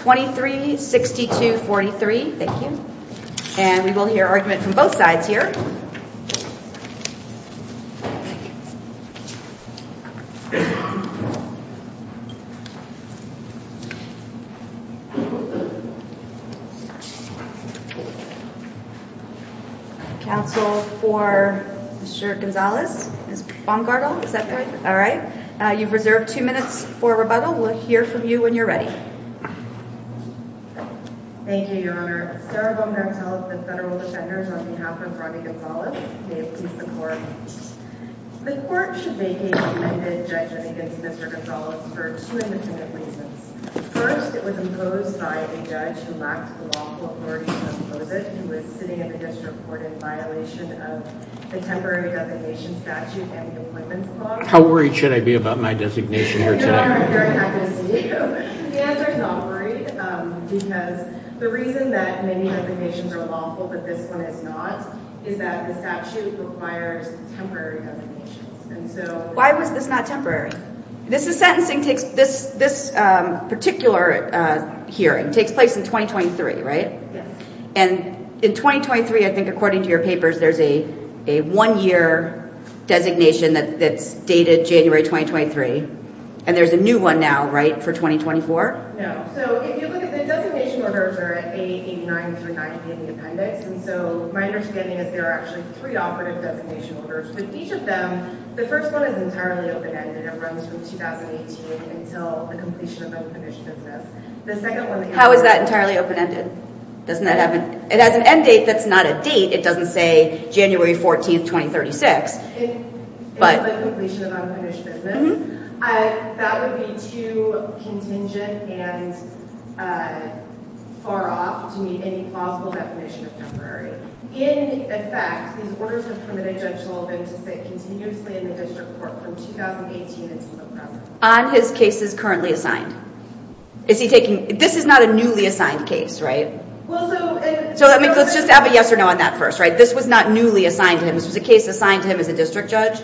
23-62-43. Thank you. And we will hear argument from both sides here. Counsel for Mr. Gonzalez, Ms. Baumgartel, is that correct? All right. You've reserved two minutes for rebuttal. We'll hear from you when you're ready. Thank you, Your Honor. Sarah Baumgartel of the Federal Defenders on behalf of Ronnie Gonzalez, may it please the court. The court should vacate the amended judgment against Mr. Gonzalez for two independent reasons. First, it was imposed by a judge who lacked the lawful authority to impose it. He was sitting in the district court in violation of the temporary designation statute and the equipment clause. How worried should I be about my designation here today? The answer is not worried because the reason that many designations are lawful but this one is not is that the statute requires temporary designations. Why was this not temporary? This particular hearing takes place in 2023, right? Yes. And in 2023, I think according to your papers, there's a one-year designation that's dated January 2023. And there's a new one now, right, for 2024? No. So if you look at the designation orders, they're at 889-390 in the appendix. And so my understanding is there are actually three operative designation orders. With each of them, the first one is entirely open-ended and runs from 2018 until the completion of unpunished business. How is that entirely open-ended? It has an end date that's not a date. It doesn't say January 14, 2036. If it's like completion of unpunished business, that would be too contingent and far off to meet any plausible definition of temporary. In effect, these orders are permitted Judge Sullivan to sit continuously in the district court from 2018 until November. On his cases currently assigned? This is not a newly assigned case, right? So let's just have a yes or no on that first, right? This was not newly assigned to him. This was a case assigned to him as a district judge?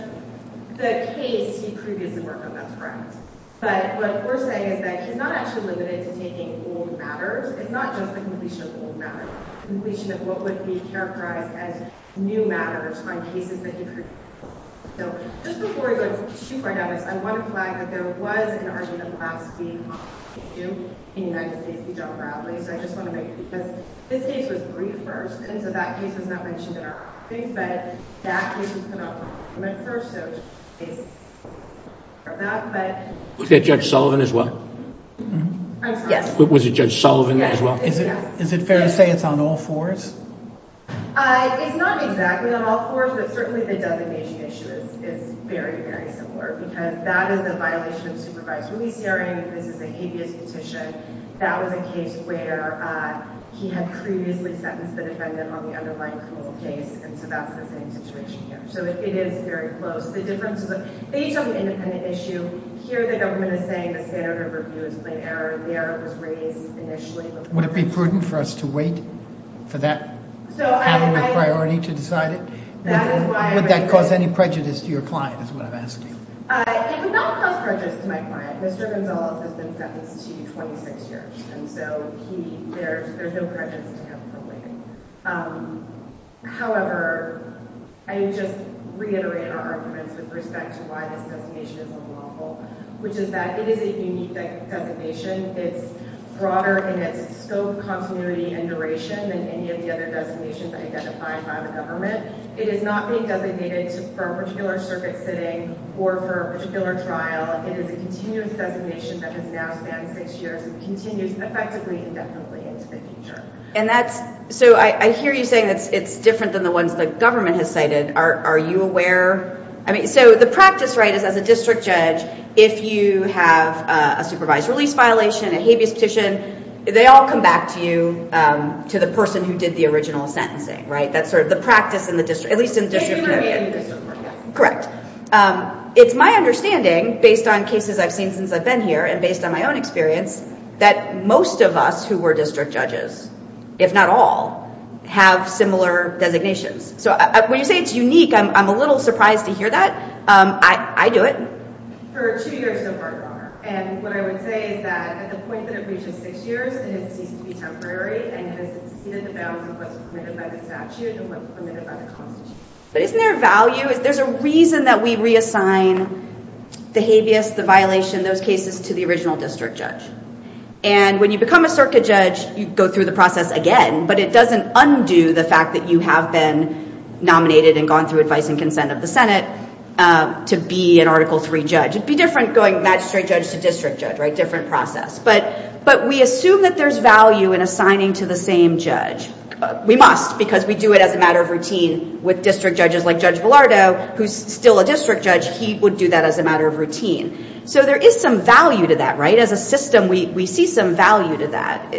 The case he previously worked on, that's correct. But what we're saying is that he's not actually limited to taking old matters. It's not just the completion of old matters. It's the completion of what would be characterized as new matters on cases that he previously worked on. Just before we go to Chief Wright-Davis, I want to flag that there was an argument last week on this issue in the United States with John Bradley. So I just want to make it because this case was briefed first, and so that case was not mentioned in our brief. But that case was come up first. Was that Judge Sullivan as well? Yes. Was it Judge Sullivan as well? Yes. Is it fair to say it's on all fours? It's not exactly on all fours, but certainly the designation issue is very, very similar because that is a violation of supervised release hearing. This is a habeas petition. That was a case where he had previously sentenced the defendant on the underlying criminal case, and so that's the same situation here. So it is very close. The difference is that they each have an independent issue. Here the government is saying the standard of review is plain error. The error was raised initially. Would it be prudent for us to wait for that panel with priority to decide it? Would that cause any prejudice to your client is what I'm asking? It would not cause prejudice to my client. Mr. Gonzales has been sentenced to 26 years, and so there's no prejudice to him from waiting. However, I just reiterate our arguments with respect to why this designation is unlawful, which is that it is a unique designation. It's broader in its scope, continuity, and duration than any of the other designations identified by the government. It is not being designated for a particular circuit sitting or for a particular trial. It is a continuous designation that has now spanned six years and continues effectively indefinitely into the future. So I hear you saying it's different than the ones the government has cited. Are you aware? I mean, so the practice, right, is as a district judge, if you have a supervised release violation, a habeas petition, they all come back to you, to the person who did the original sentencing, right? That's sort of the practice in the district, at least in the district. Correct. It's my understanding, based on cases I've seen since I've been here and based on my own experience, that most of us who were district judges, if not all, have similar designations. So when you say it's unique, I'm a little surprised to hear that. I do it. For two years so far, Your Honor, and what I would say is that at the point that it reaches six years, it has ceased to be temporary and has exceeded the bounds of what's permitted by the statute and what's permitted by the Constitution. But isn't there a value? There's a reason that we reassign the habeas, the violation, those cases to the original district judge. And when you become a circuit judge, you go through the process again, but it doesn't undo the fact that you have been nominated and gone through advice and consent of the Senate to be an Article III judge. It would be different going magistrate judge to district judge, right, different process. But we assume that there's value in assigning to the same judge. We must, because we do it as a matter of routine with district judges like Judge Bilardo, who's still a district judge. He would do that as a matter of routine. So there is some value to that, right? As a system, we see some value to that.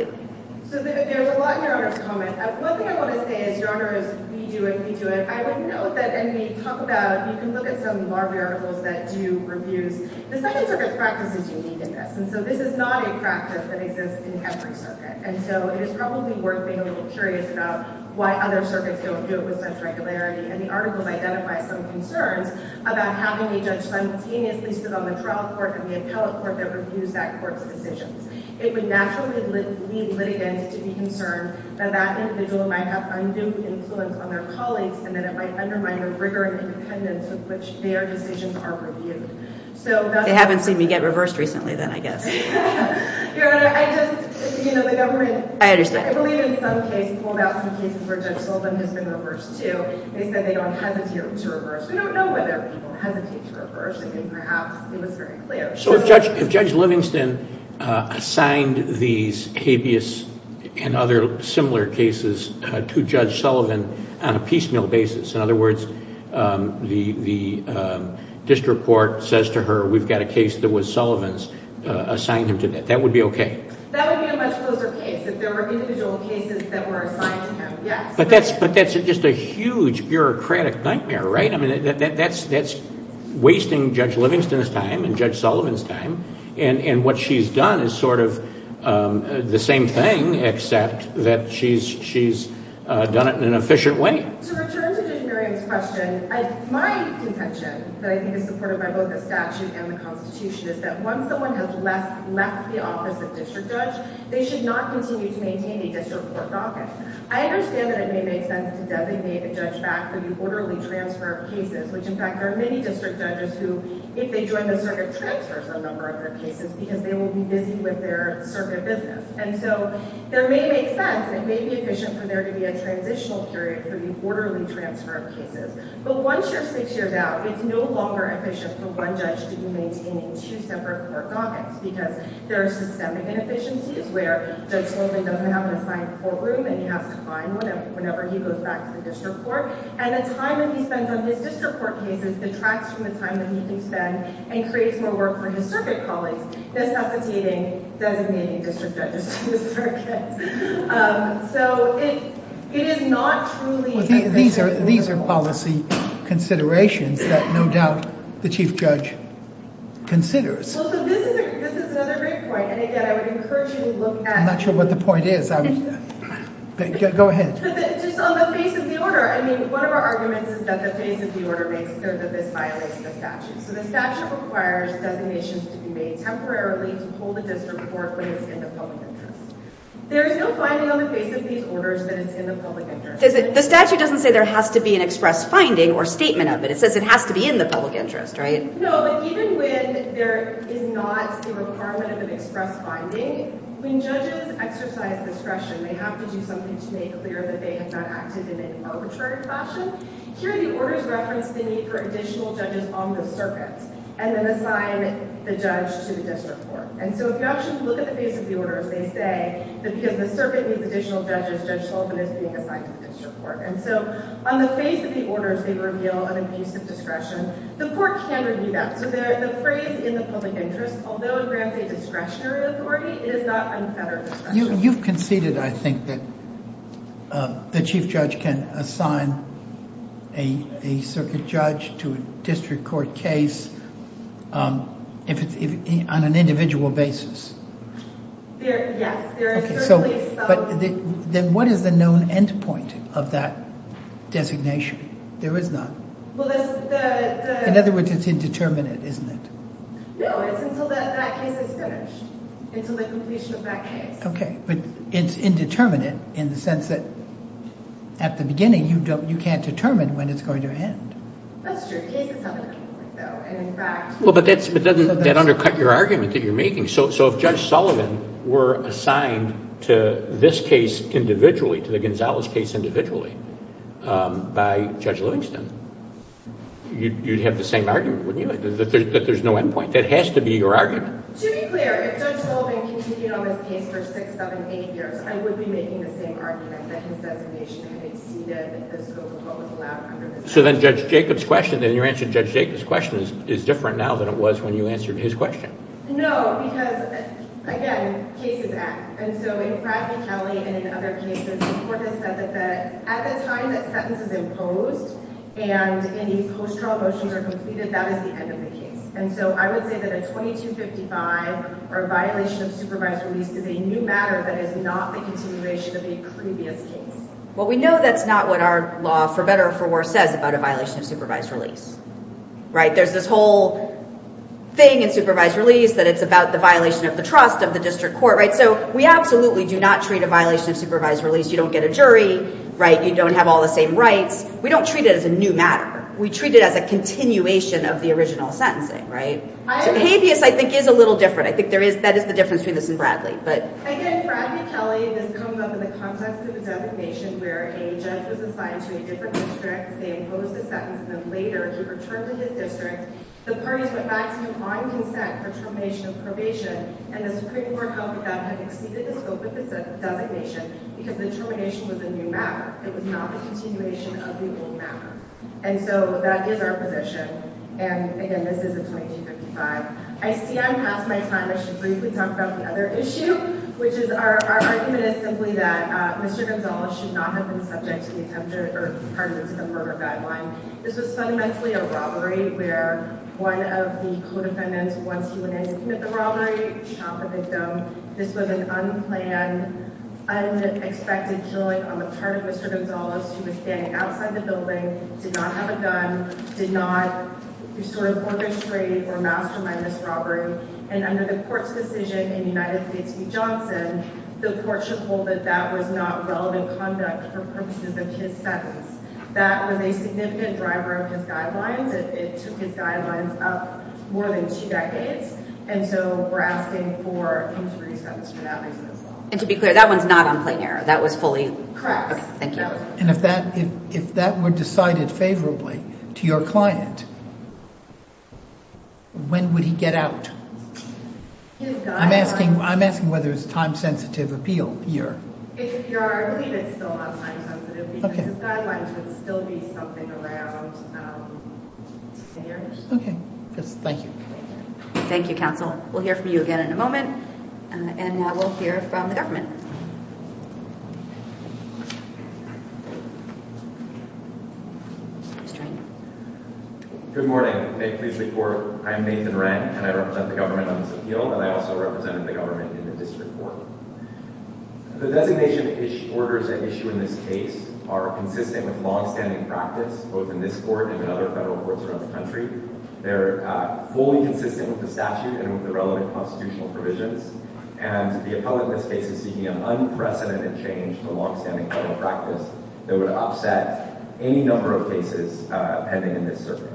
So there's a lot in Your Honor's comment. One thing I want to say is, Your Honor, is we do it, we do it. I would note that, and we talk about it, you can look at some of our articles that do reviews. The Second Circuit's practice is unique in this. And so this is not a practice that exists in every circuit. And so it is probably worth being a little curious about why other circuits don't do it with such regularity. And the articles identify some concerns about having a judge simultaneously sit on the trial court and the appellate court that reviews that court's decisions. It would naturally lead litigants to be concerned that that individual might have undue influence on their colleagues and that it might undermine the rigor and independence with which their decisions are reviewed. They haven't seen me get reversed recently then, I guess. Your Honor, I just, you know, the government— I understand. I believe in some cases, pulled out some cases where Judge Sullivan has been reversed too. They said they don't hesitate to reverse. We don't know whether people hesitate to reverse. I think perhaps it was very clear. So if Judge Livingston assigned these habeas and other similar cases to Judge Sullivan on a piecemeal basis, in other words, the district court says to her, we've got a case that was Sullivan's, assign him to that, that would be okay? That would be a much closer case if there were individual cases that were assigned to him, yes. But that's just a huge bureaucratic nightmare, right? I mean, that's wasting Judge Livingston's time and Judge Sullivan's time. And what she's done is sort of the same thing, except that she's done it in an efficient way. To return to Judge Merriam's question, my contention that I think is supported by both the statute and the Constitution is that once someone has left the office of district judge, they should not continue to maintain a district court office. I understand that it may make sense to designate a judge back for the orderly transfer of cases, which, in fact, there are many district judges who, if they join the circuit, transfer some number of their cases because they will be busy with their circuit business. And so there may make sense. It may be efficient for there to be a transitional period for the orderly transfer of cases. But once you're six years out, it's no longer efficient for one judge to be maintaining two separate court governments because there are systemic inefficiencies where Judge Sullivan doesn't have an assigned courtroom that he has to find whenever he goes back to the district court. And the time that he spends on his district court cases detracts from the time that he can spend and creates more work for his circuit colleagues, necessitating designating district judges to the circuit. So it is not truly efficient. These are policy considerations that, no doubt, the chief judge considers. This is another great point, and again, I would encourage you to look at— I'm not sure what the point is. Go ahead. Just on the face of the order, I mean, one of our arguments is that the face of the order makes clear that this violates the statute. So the statute requires designations to be made temporarily to hold a district court when it's in the public interest. There is no finding on the face of these orders that it's in the public interest. The statute doesn't say there has to be an express finding or statement of it. It says it has to be in the public interest, right? No, but even when there is not a requirement of an express finding, when judges exercise discretion, they have to do something to make clear that they have not acted in an arbitrary fashion. Here, the orders reference the need for additional judges on the circuit and then assign the judge to the district court. And so if you actually look at the face of the order, as they say, because the circuit needs additional judges, Judge Sullivan is being assigned to the district court. And so on the face of the orders, they reveal an abuse of discretion. The court can review that. So the phrase in the public interest, although it grants a discretionary authority, it is not unfettered discretion. You've conceded, I think, that the chief judge can assign a circuit judge to a district court case on an individual basis. Yes, there is certainly some. But then what is the known end point of that designation? There is none. In other words, it's indeterminate, isn't it? No, it's until that case is finished, until the completion of that case. Okay, but it's indeterminate in the sense that at the beginning you can't determine when it's going to end. That's true. The case is not going to end though. But doesn't that undercut your argument that you're making? So if Judge Sullivan were assigned to this case individually, to the Gonzalez case individually, by Judge Livingston, you'd have the same argument, wouldn't you? That there's no end point. That has to be your argument. To be clear, if Judge Sullivan continued on this case for six, seven, eight years, I would be making the same argument that his designation had exceeded the scope of what was allowed under the statute. No, because, again, cases act. And so in Bradley Kelly and in other cases, the court has said that at the time that sentence is imposed and any post-trial motions are completed, that is the end of the case. And so I would say that a 2255 or a violation of supervised release is a new matter that is not the continuation of a previous case. Well, we know that's not what our law for better or for worse says about a violation of supervised release. There's this whole thing in supervised release that it's about the violation of the trust of the district court. So we absolutely do not treat a violation of supervised release, you don't get a jury, you don't have all the same rights. We don't treat it as a new matter. We treat it as a continuation of the original sentencing, right? So habeas, I think, is a little different. I think that is the difference between this and Bradley. Again, Bradley Kelly, this comes up in the context of a designation where a judge was assigned to a different district, they imposed a sentence, and then later he returned to his district. The parties went back to complying consent for termination of probation, and the Supreme Court held that that had exceeded the scope of the designation because the termination was a new matter. It was not a continuation of the old matter. And so that is our position. And again, this is a 2255. I see I'm past my time. I should briefly talk about the other issue, which is our argument is simply that Mr. Gonzales should not have been subject to the attempted or part of the attempted murder guideline. This was fundamentally a robbery where one of the co-defendants, once he went in to commit the robbery, shot the victim. This was an unplanned, unexpected killing on the part of Mr. Gonzales. He was standing outside the building, did not have a gun, did not sort of orchestrate or mastermind this robbery. And under the court's decision in United States v. Johnson, the court should hold that that was not relevant conduct for purposes of his sentence. That was a significant driver of his guidelines. It took his guidelines up more than two decades. And so we're asking for him to be sentenced for that reason as well. And to be clear, that one's not on plain error. That was fully? Thank you. And if that were decided favorably to your client, when would he get out? I'm asking whether it's time-sensitive appeal here. I believe it's still not time-sensitive because his guidelines would still be something around 10 years. Okay. Thank you. Thank you, counsel. We'll hear from you again in a moment. And now we'll hear from the government. Good morning. May it please the court, I'm Nathan Wren, and I represent the government on this appeal. And I also represent the government in the district court. The designation orders at issue in this case are consistent with long-standing practice, both in this court and in other federal courts around the country. They're fully consistent with the statute and with the relevant constitutional provisions. And the appellant in this case is seeking an unprecedented change in the long-standing federal practice that would upset any number of cases pending in this circuit.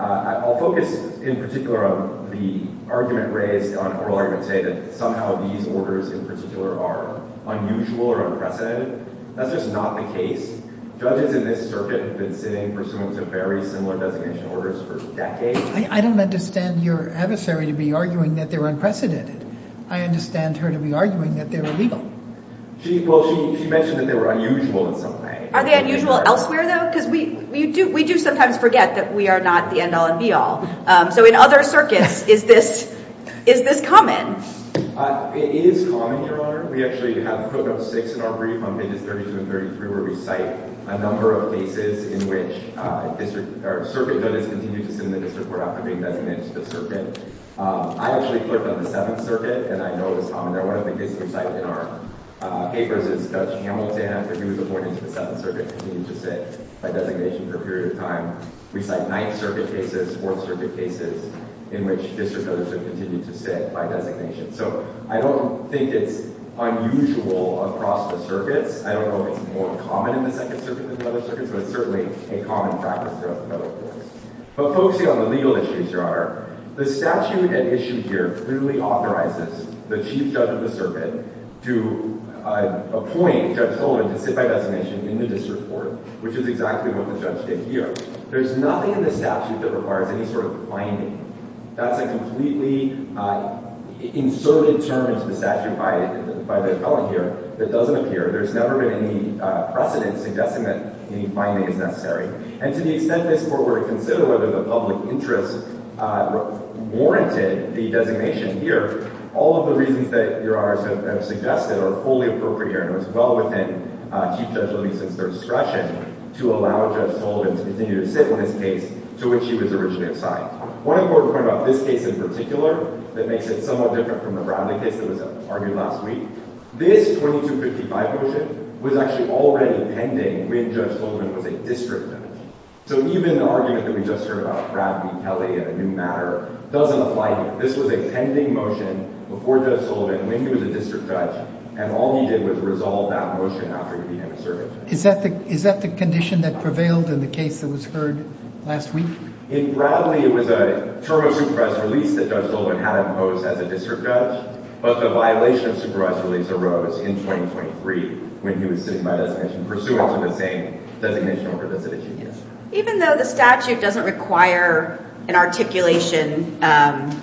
I'll focus in particular on the argument raised on oral argument, say that somehow these orders in particular are unusual or unprecedented. That's just not the case. Judges in this circuit have been sitting pursuant to very similar designation orders for decades. I don't understand your adversary to be arguing that they're unprecedented. I understand her to be arguing that they're illegal. Well, she mentioned that they were unusual in some way. Are they unusual elsewhere, though? Because we do sometimes forget that we are not the end-all and be-all. So in other circuits, is this common? It is common, Your Honor. We actually have Code No. 6 in our brief on pages 32 and 33, where we cite a number of cases in which circuit judges continue to sit in the district court after being designated to the circuit. I actually clerked on the Seventh Circuit, and I know it's common. One of the cases we cite in our papers is Judge Hamilton after he was appointed to the Seventh Circuit and continued to sit by designation for a period of time. We cite Ninth Circuit cases, Fourth Circuit cases, in which district judges have continued to sit by designation. So I don't think it's unusual across the circuits. I don't know if it's more common in the Second Circuit than the other circuits, but it's certainly a common practice throughout the federal courts. But focusing on the legal issues, Your Honor, the statute at issue here clearly authorizes the chief judge of the circuit to appoint Judge Olin to sit by designation in the district court, which is exactly what the judge did here. There's nothing in the statute that requires any sort of binding. That's a completely inserted term in the statute by the felon here that doesn't appear. There's never been any precedent suggesting that any binding is necessary. And to the extent this court were to consider whether the public interest warranted the designation here, all of the reasons that Your Honors have suggested are fully appropriate, and it was well within Chief Judge Olin's discretion to allow Judge Olin to continue to sit in this case to which he was originally assigned. One important point about this case in particular that makes it somewhat different from the Bradley case that was argued last week, this 2255 motion was actually already pending when Judge Sullivan was a district judge. So even the argument that we just heard about Bradley, Kelly, and a new matter doesn't apply here. This was a pending motion before Judge Sullivan when he was a district judge, and all he did was resolve that motion after he became a circuit judge. Is that the condition that prevailed in the case that was heard last week? In Bradley, it was a term of supervised release that Judge Sullivan had imposed as a district judge, but the violation of supervised release arose in 2023 when he was sitting by designation pursuant to the same designation or provision that she did. Even though the statute doesn't require an articulation of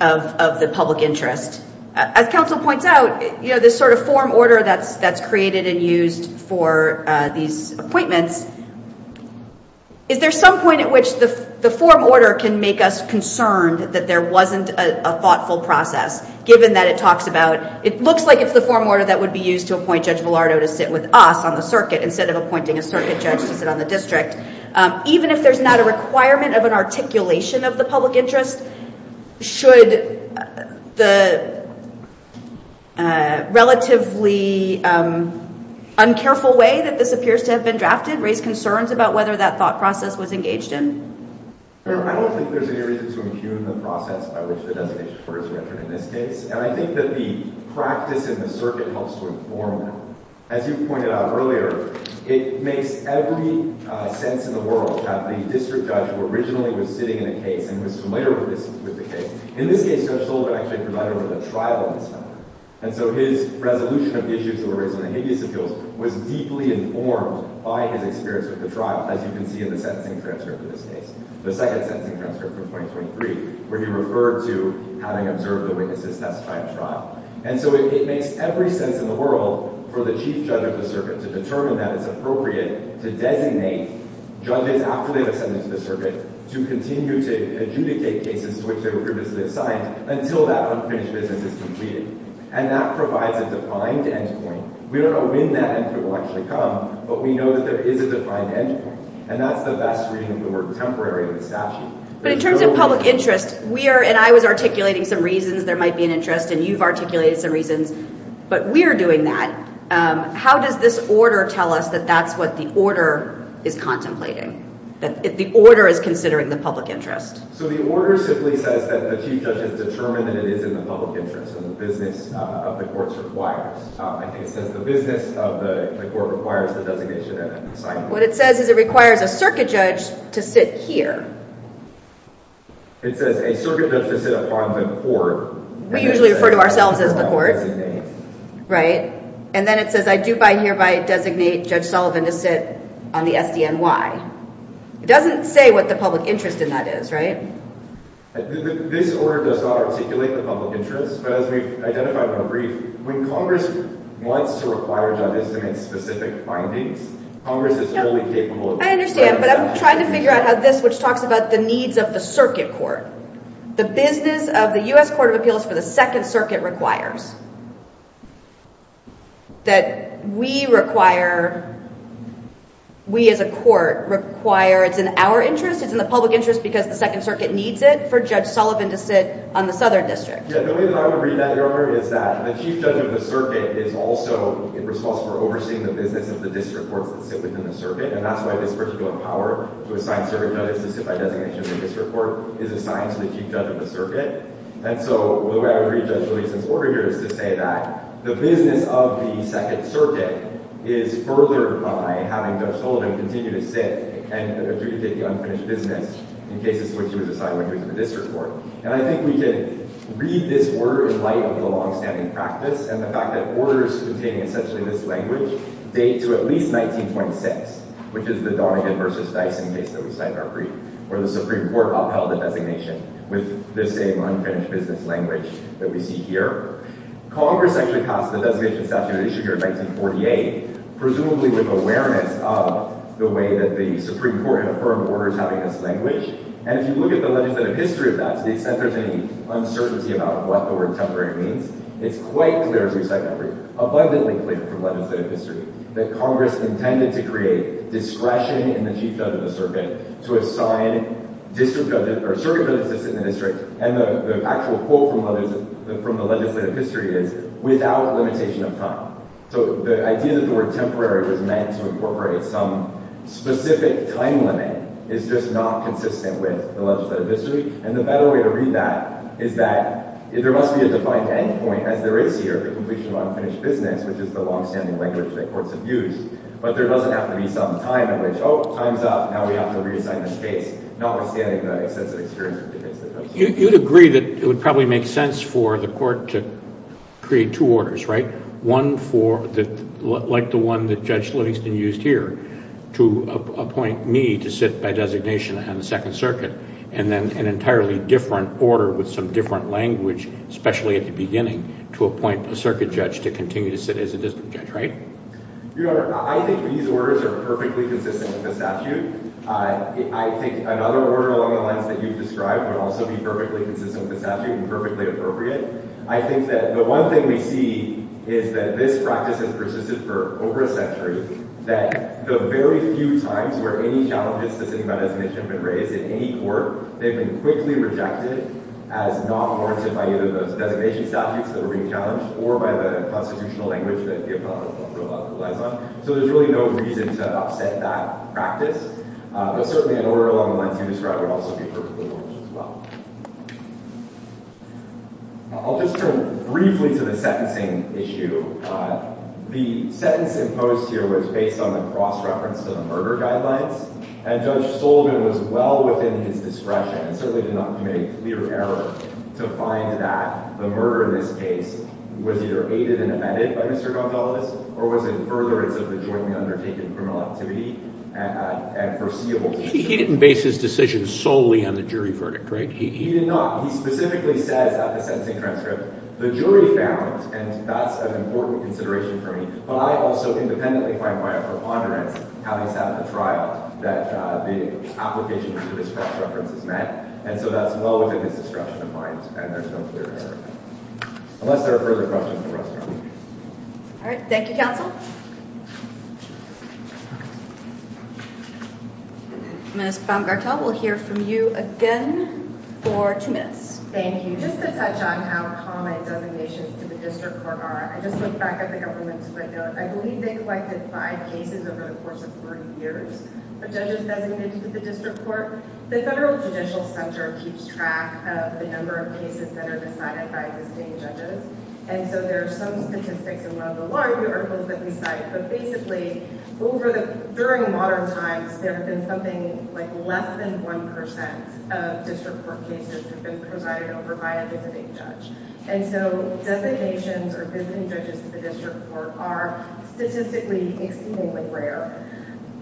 the public interest, as counsel points out, this sort of form order that's created and used for these appointments, is there some point at which the form order can make us concerned that there wasn't a thoughtful process, given that it looks like it's the form order that would be used to appoint Judge Villardo to sit with us on the circuit instead of appointing a circuit judge to sit on the district? Even if there's not a requirement of an articulation of the public interest, should the relatively uncareful way that this appears to have been drafted raise concerns about whether that thought process was engaged in? I don't think there's any reason to impugn the process by which the designation is referred in this case, and I think that the practice in the circuit helps to inform that. As you pointed out earlier, it makes every sense in the world that the district judge who originally was sitting in a case and was familiar with the case, in this case, Judge Sullivan actually provided a trial in this matter. And so his resolution of issues that were raised in the habeas appeals was deeply informed by his experience with the trial, as you can see in the sentencing transcript of this case, the second sentencing transcript from 2023, where he referred to having observed the witnesses testifying at trial. And so it makes every sense in the world for the chief judge of the circuit to determine that it's appropriate to designate judges after they've ascended to the circuit to continue to adjudicate cases to which they were previously assigned until that unfinished business is completed. And that provides a defined end point. We don't know when that end point will actually come, but we know that there is a defined end point, and that's the best reading of the word temporary in the statute. But in terms of public interest, we are and I was articulating some reasons there might be an interest and you've articulated some reasons, but we're doing that. How does this order tell us that that's what the order is contemplating, that the order is considering the public interest? So the order simply says that the chief judge has determined that it is in the public interest and the business of the courts requires. It says the business of the court requires the designation and assignment. What it says is it requires a circuit judge to sit here. It says a circuit judge to sit upon the court. We usually refer to ourselves as the court. And then it says I do by hereby designate Judge Sullivan to sit on the SDNY. It doesn't say what the public interest in that is, right? This order does not articulate the public interest. But as we've identified in our brief, when Congress wants to require judges to make specific findings, Congress is fully capable of doing that. I understand, but I'm trying to figure out how this, which talks about the needs of the circuit court, the business of the U.S. Court of Appeals for the Second Circuit requires. That we require, we as a court require, it's in our interest, it's in the public interest because the Second Circuit needs it for Judge Sullivan to sit on the Southern District. Yeah, the way that I would read that, Your Honor, is that the chief judge of the circuit is also responsible for overseeing the business of the district courts that sit within the circuit. And that's why this particular power to assign circuit judges to sit by designation of the district court is assigned to the chief judge of the circuit. And so the way I would read Judge Julien's order here is to say that the business of the Second Circuit is furthered by having Judge Sullivan continue to sit and adjudicate the unfinished business in cases in which he was assigned when he was in the district court. And I think we can read this word in light of the longstanding practice and the fact that orders containing essentially this language date to at least 1926, which is the Donegan v. Dyson case that we cited earlier, where the Supreme Court upheld the designation with the same unfinished business language that we see here. Congress actually passed the designation statute at issue here in 1948, presumably with awareness of the way that the Supreme Court had affirmed orders having this language. And if you look at the legislative history of that, to the extent there's any uncertainty about what the word temporary means, it's quite clear, as we cited earlier, abundantly clear from legislative history, that Congress intended to create discretion in the chief judge of the circuit to assign circuit judges to sit in the district. And the actual quote from the legislative history is, without limitation of time. So the idea that the word temporary was meant to incorporate some specific time limit is just not consistent with the legislative history. And the better way to read that is that there must be a defined end point, as there is here, the completion of unfinished business, which is the longstanding language that courts have used. But there doesn't have to be some time in which, oh, time's up, now we have to reassign the case, notwithstanding the extensive experience of defense. You'd agree that it would probably make sense for the court to create two orders, right? One for, like the one that Judge Livingston used here, to appoint me to sit by designation on the Second Circuit. And then an entirely different order with some different language, especially at the beginning, to appoint a circuit judge to continue to sit as a district judge, right? Your Honor, I think these orders are perfectly consistent with the statute. I think another order along the lines that you've described would also be perfectly consistent with the statute and perfectly appropriate. I think that the one thing we see is that this practice has persisted for over a century, that the very few times where any challenges to sitting by designation have been raised in any court, they've been quickly rejected as not warranted by either those designation statutes that were being challenged or by the constitutional language that the Apollo Bill relies on. So there's really no reason to upset that practice. But certainly an order along the lines you described would also be perfectly logical as well. I'll just turn briefly to the sentencing issue. The sentence imposed here was based on the cross-reference to the murder guidelines, and Judge Sullivan was well within his discretion, and certainly did not commit a clear error, to find that the murder in this case was either aided and abetted by Mr. Gonzales, or was in furtherance of the jointly undertaken criminal activity and foreseeable future. He didn't base his decision solely on the jury verdict, right? He did not. He specifically says at the sentencing transcript, the jury found, and that's an important consideration for me, but I also independently find quite a preponderance, having sat at the trial, that the application for this cross-reference is met, and so that's well within his discretion of mine, and there's no clear error. Unless there are further questions from the rest of the committee. All right. Thank you, counsel. Ms. Baumgartel, we'll hear from you again for two minutes. Thank you. Just to touch on how common designations to the district court are, I just looked back at the government's footnote. I believe they collected five cases over the course of 30 years of judges designated to the district court. The Federal Judicial Center keeps track of the number of cases that are decided by visiting judges, and so there are some statistics in one of the larger articles that we cite, but basically, during modern times, there have been something like less than 1% of district court cases that have been presided over by a visiting judge, and so designations or visiting judges to the district court are statistically exceedingly rare.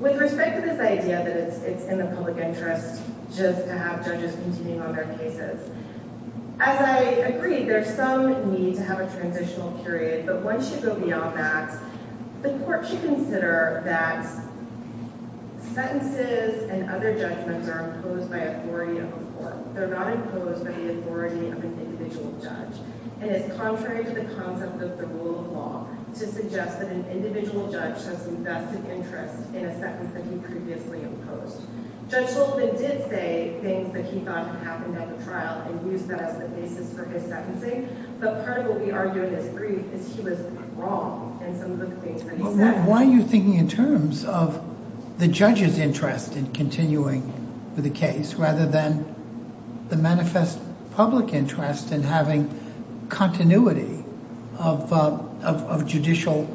With respect to this idea that it's in the public interest just to have judges continue on their cases, as I agree, there's some need to have a transitional period, but once you go beyond that, the court should consider that sentences and other judgments are imposed by authority of a court. They're not imposed by the authority of an individual judge, and it's contrary to the concept of the rule of law to suggest that an individual judge has invested interest in a sentence that he previously imposed. Judge Goldman did say things that he thought had happened at the trial and used that as the basis for his sentencing, but part of what we argue in this brief is he was wrong in some of the things that he said. Why are you thinking in terms of the judge's interest in continuing with the case rather than the manifest public interest in having continuity of judicial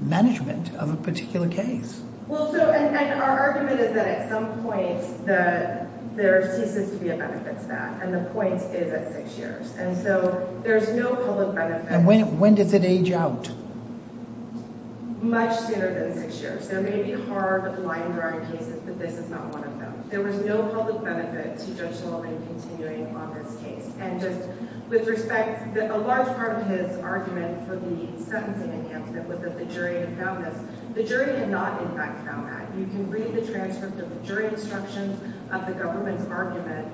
management of a particular case? Our argument is that at some point, there ceases to be a benefit to that, and the point is at six years, and so there's no public benefit. And when does it age out? Much sooner than six years. There may be hard, line-drawing cases, but this is not one of them. There was no public benefit to Judge Goldman continuing on this case, and just with respect, a large part of his argument for the sentencing enhancement was that the jury had found this. The jury had not, in fact, found that. You can read the transcript of the jury instructions of the government's argument.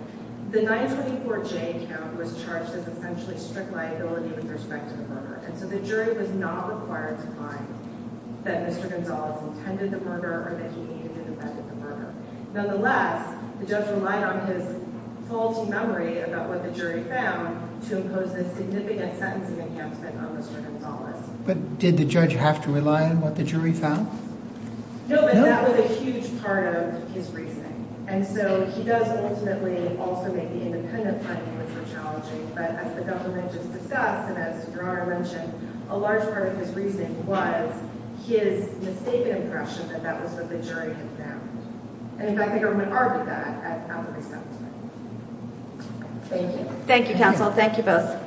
The 924J count was charged as essentially strict liability with respect to the murder, and so the jury was not required to find that Mr. Gonzalez intended the murder or that he even intended the murder. Nonetheless, the judge relied on his faulty memory about what the jury found to impose this significant sentencing enhancement on Mr. Gonzalez. But did the judge have to rely on what the jury found? No, but that was a huge part of his reasoning, and so he does ultimately also make the independent finding which was challenging. But as the government just discussed, and as Your Honor mentioned, a large part of his reasoning was his mistaken impression that that was what the jury had found. And, in fact, the government argued that at every step of the way. Thank you. Thank you, counsel. Thank you both.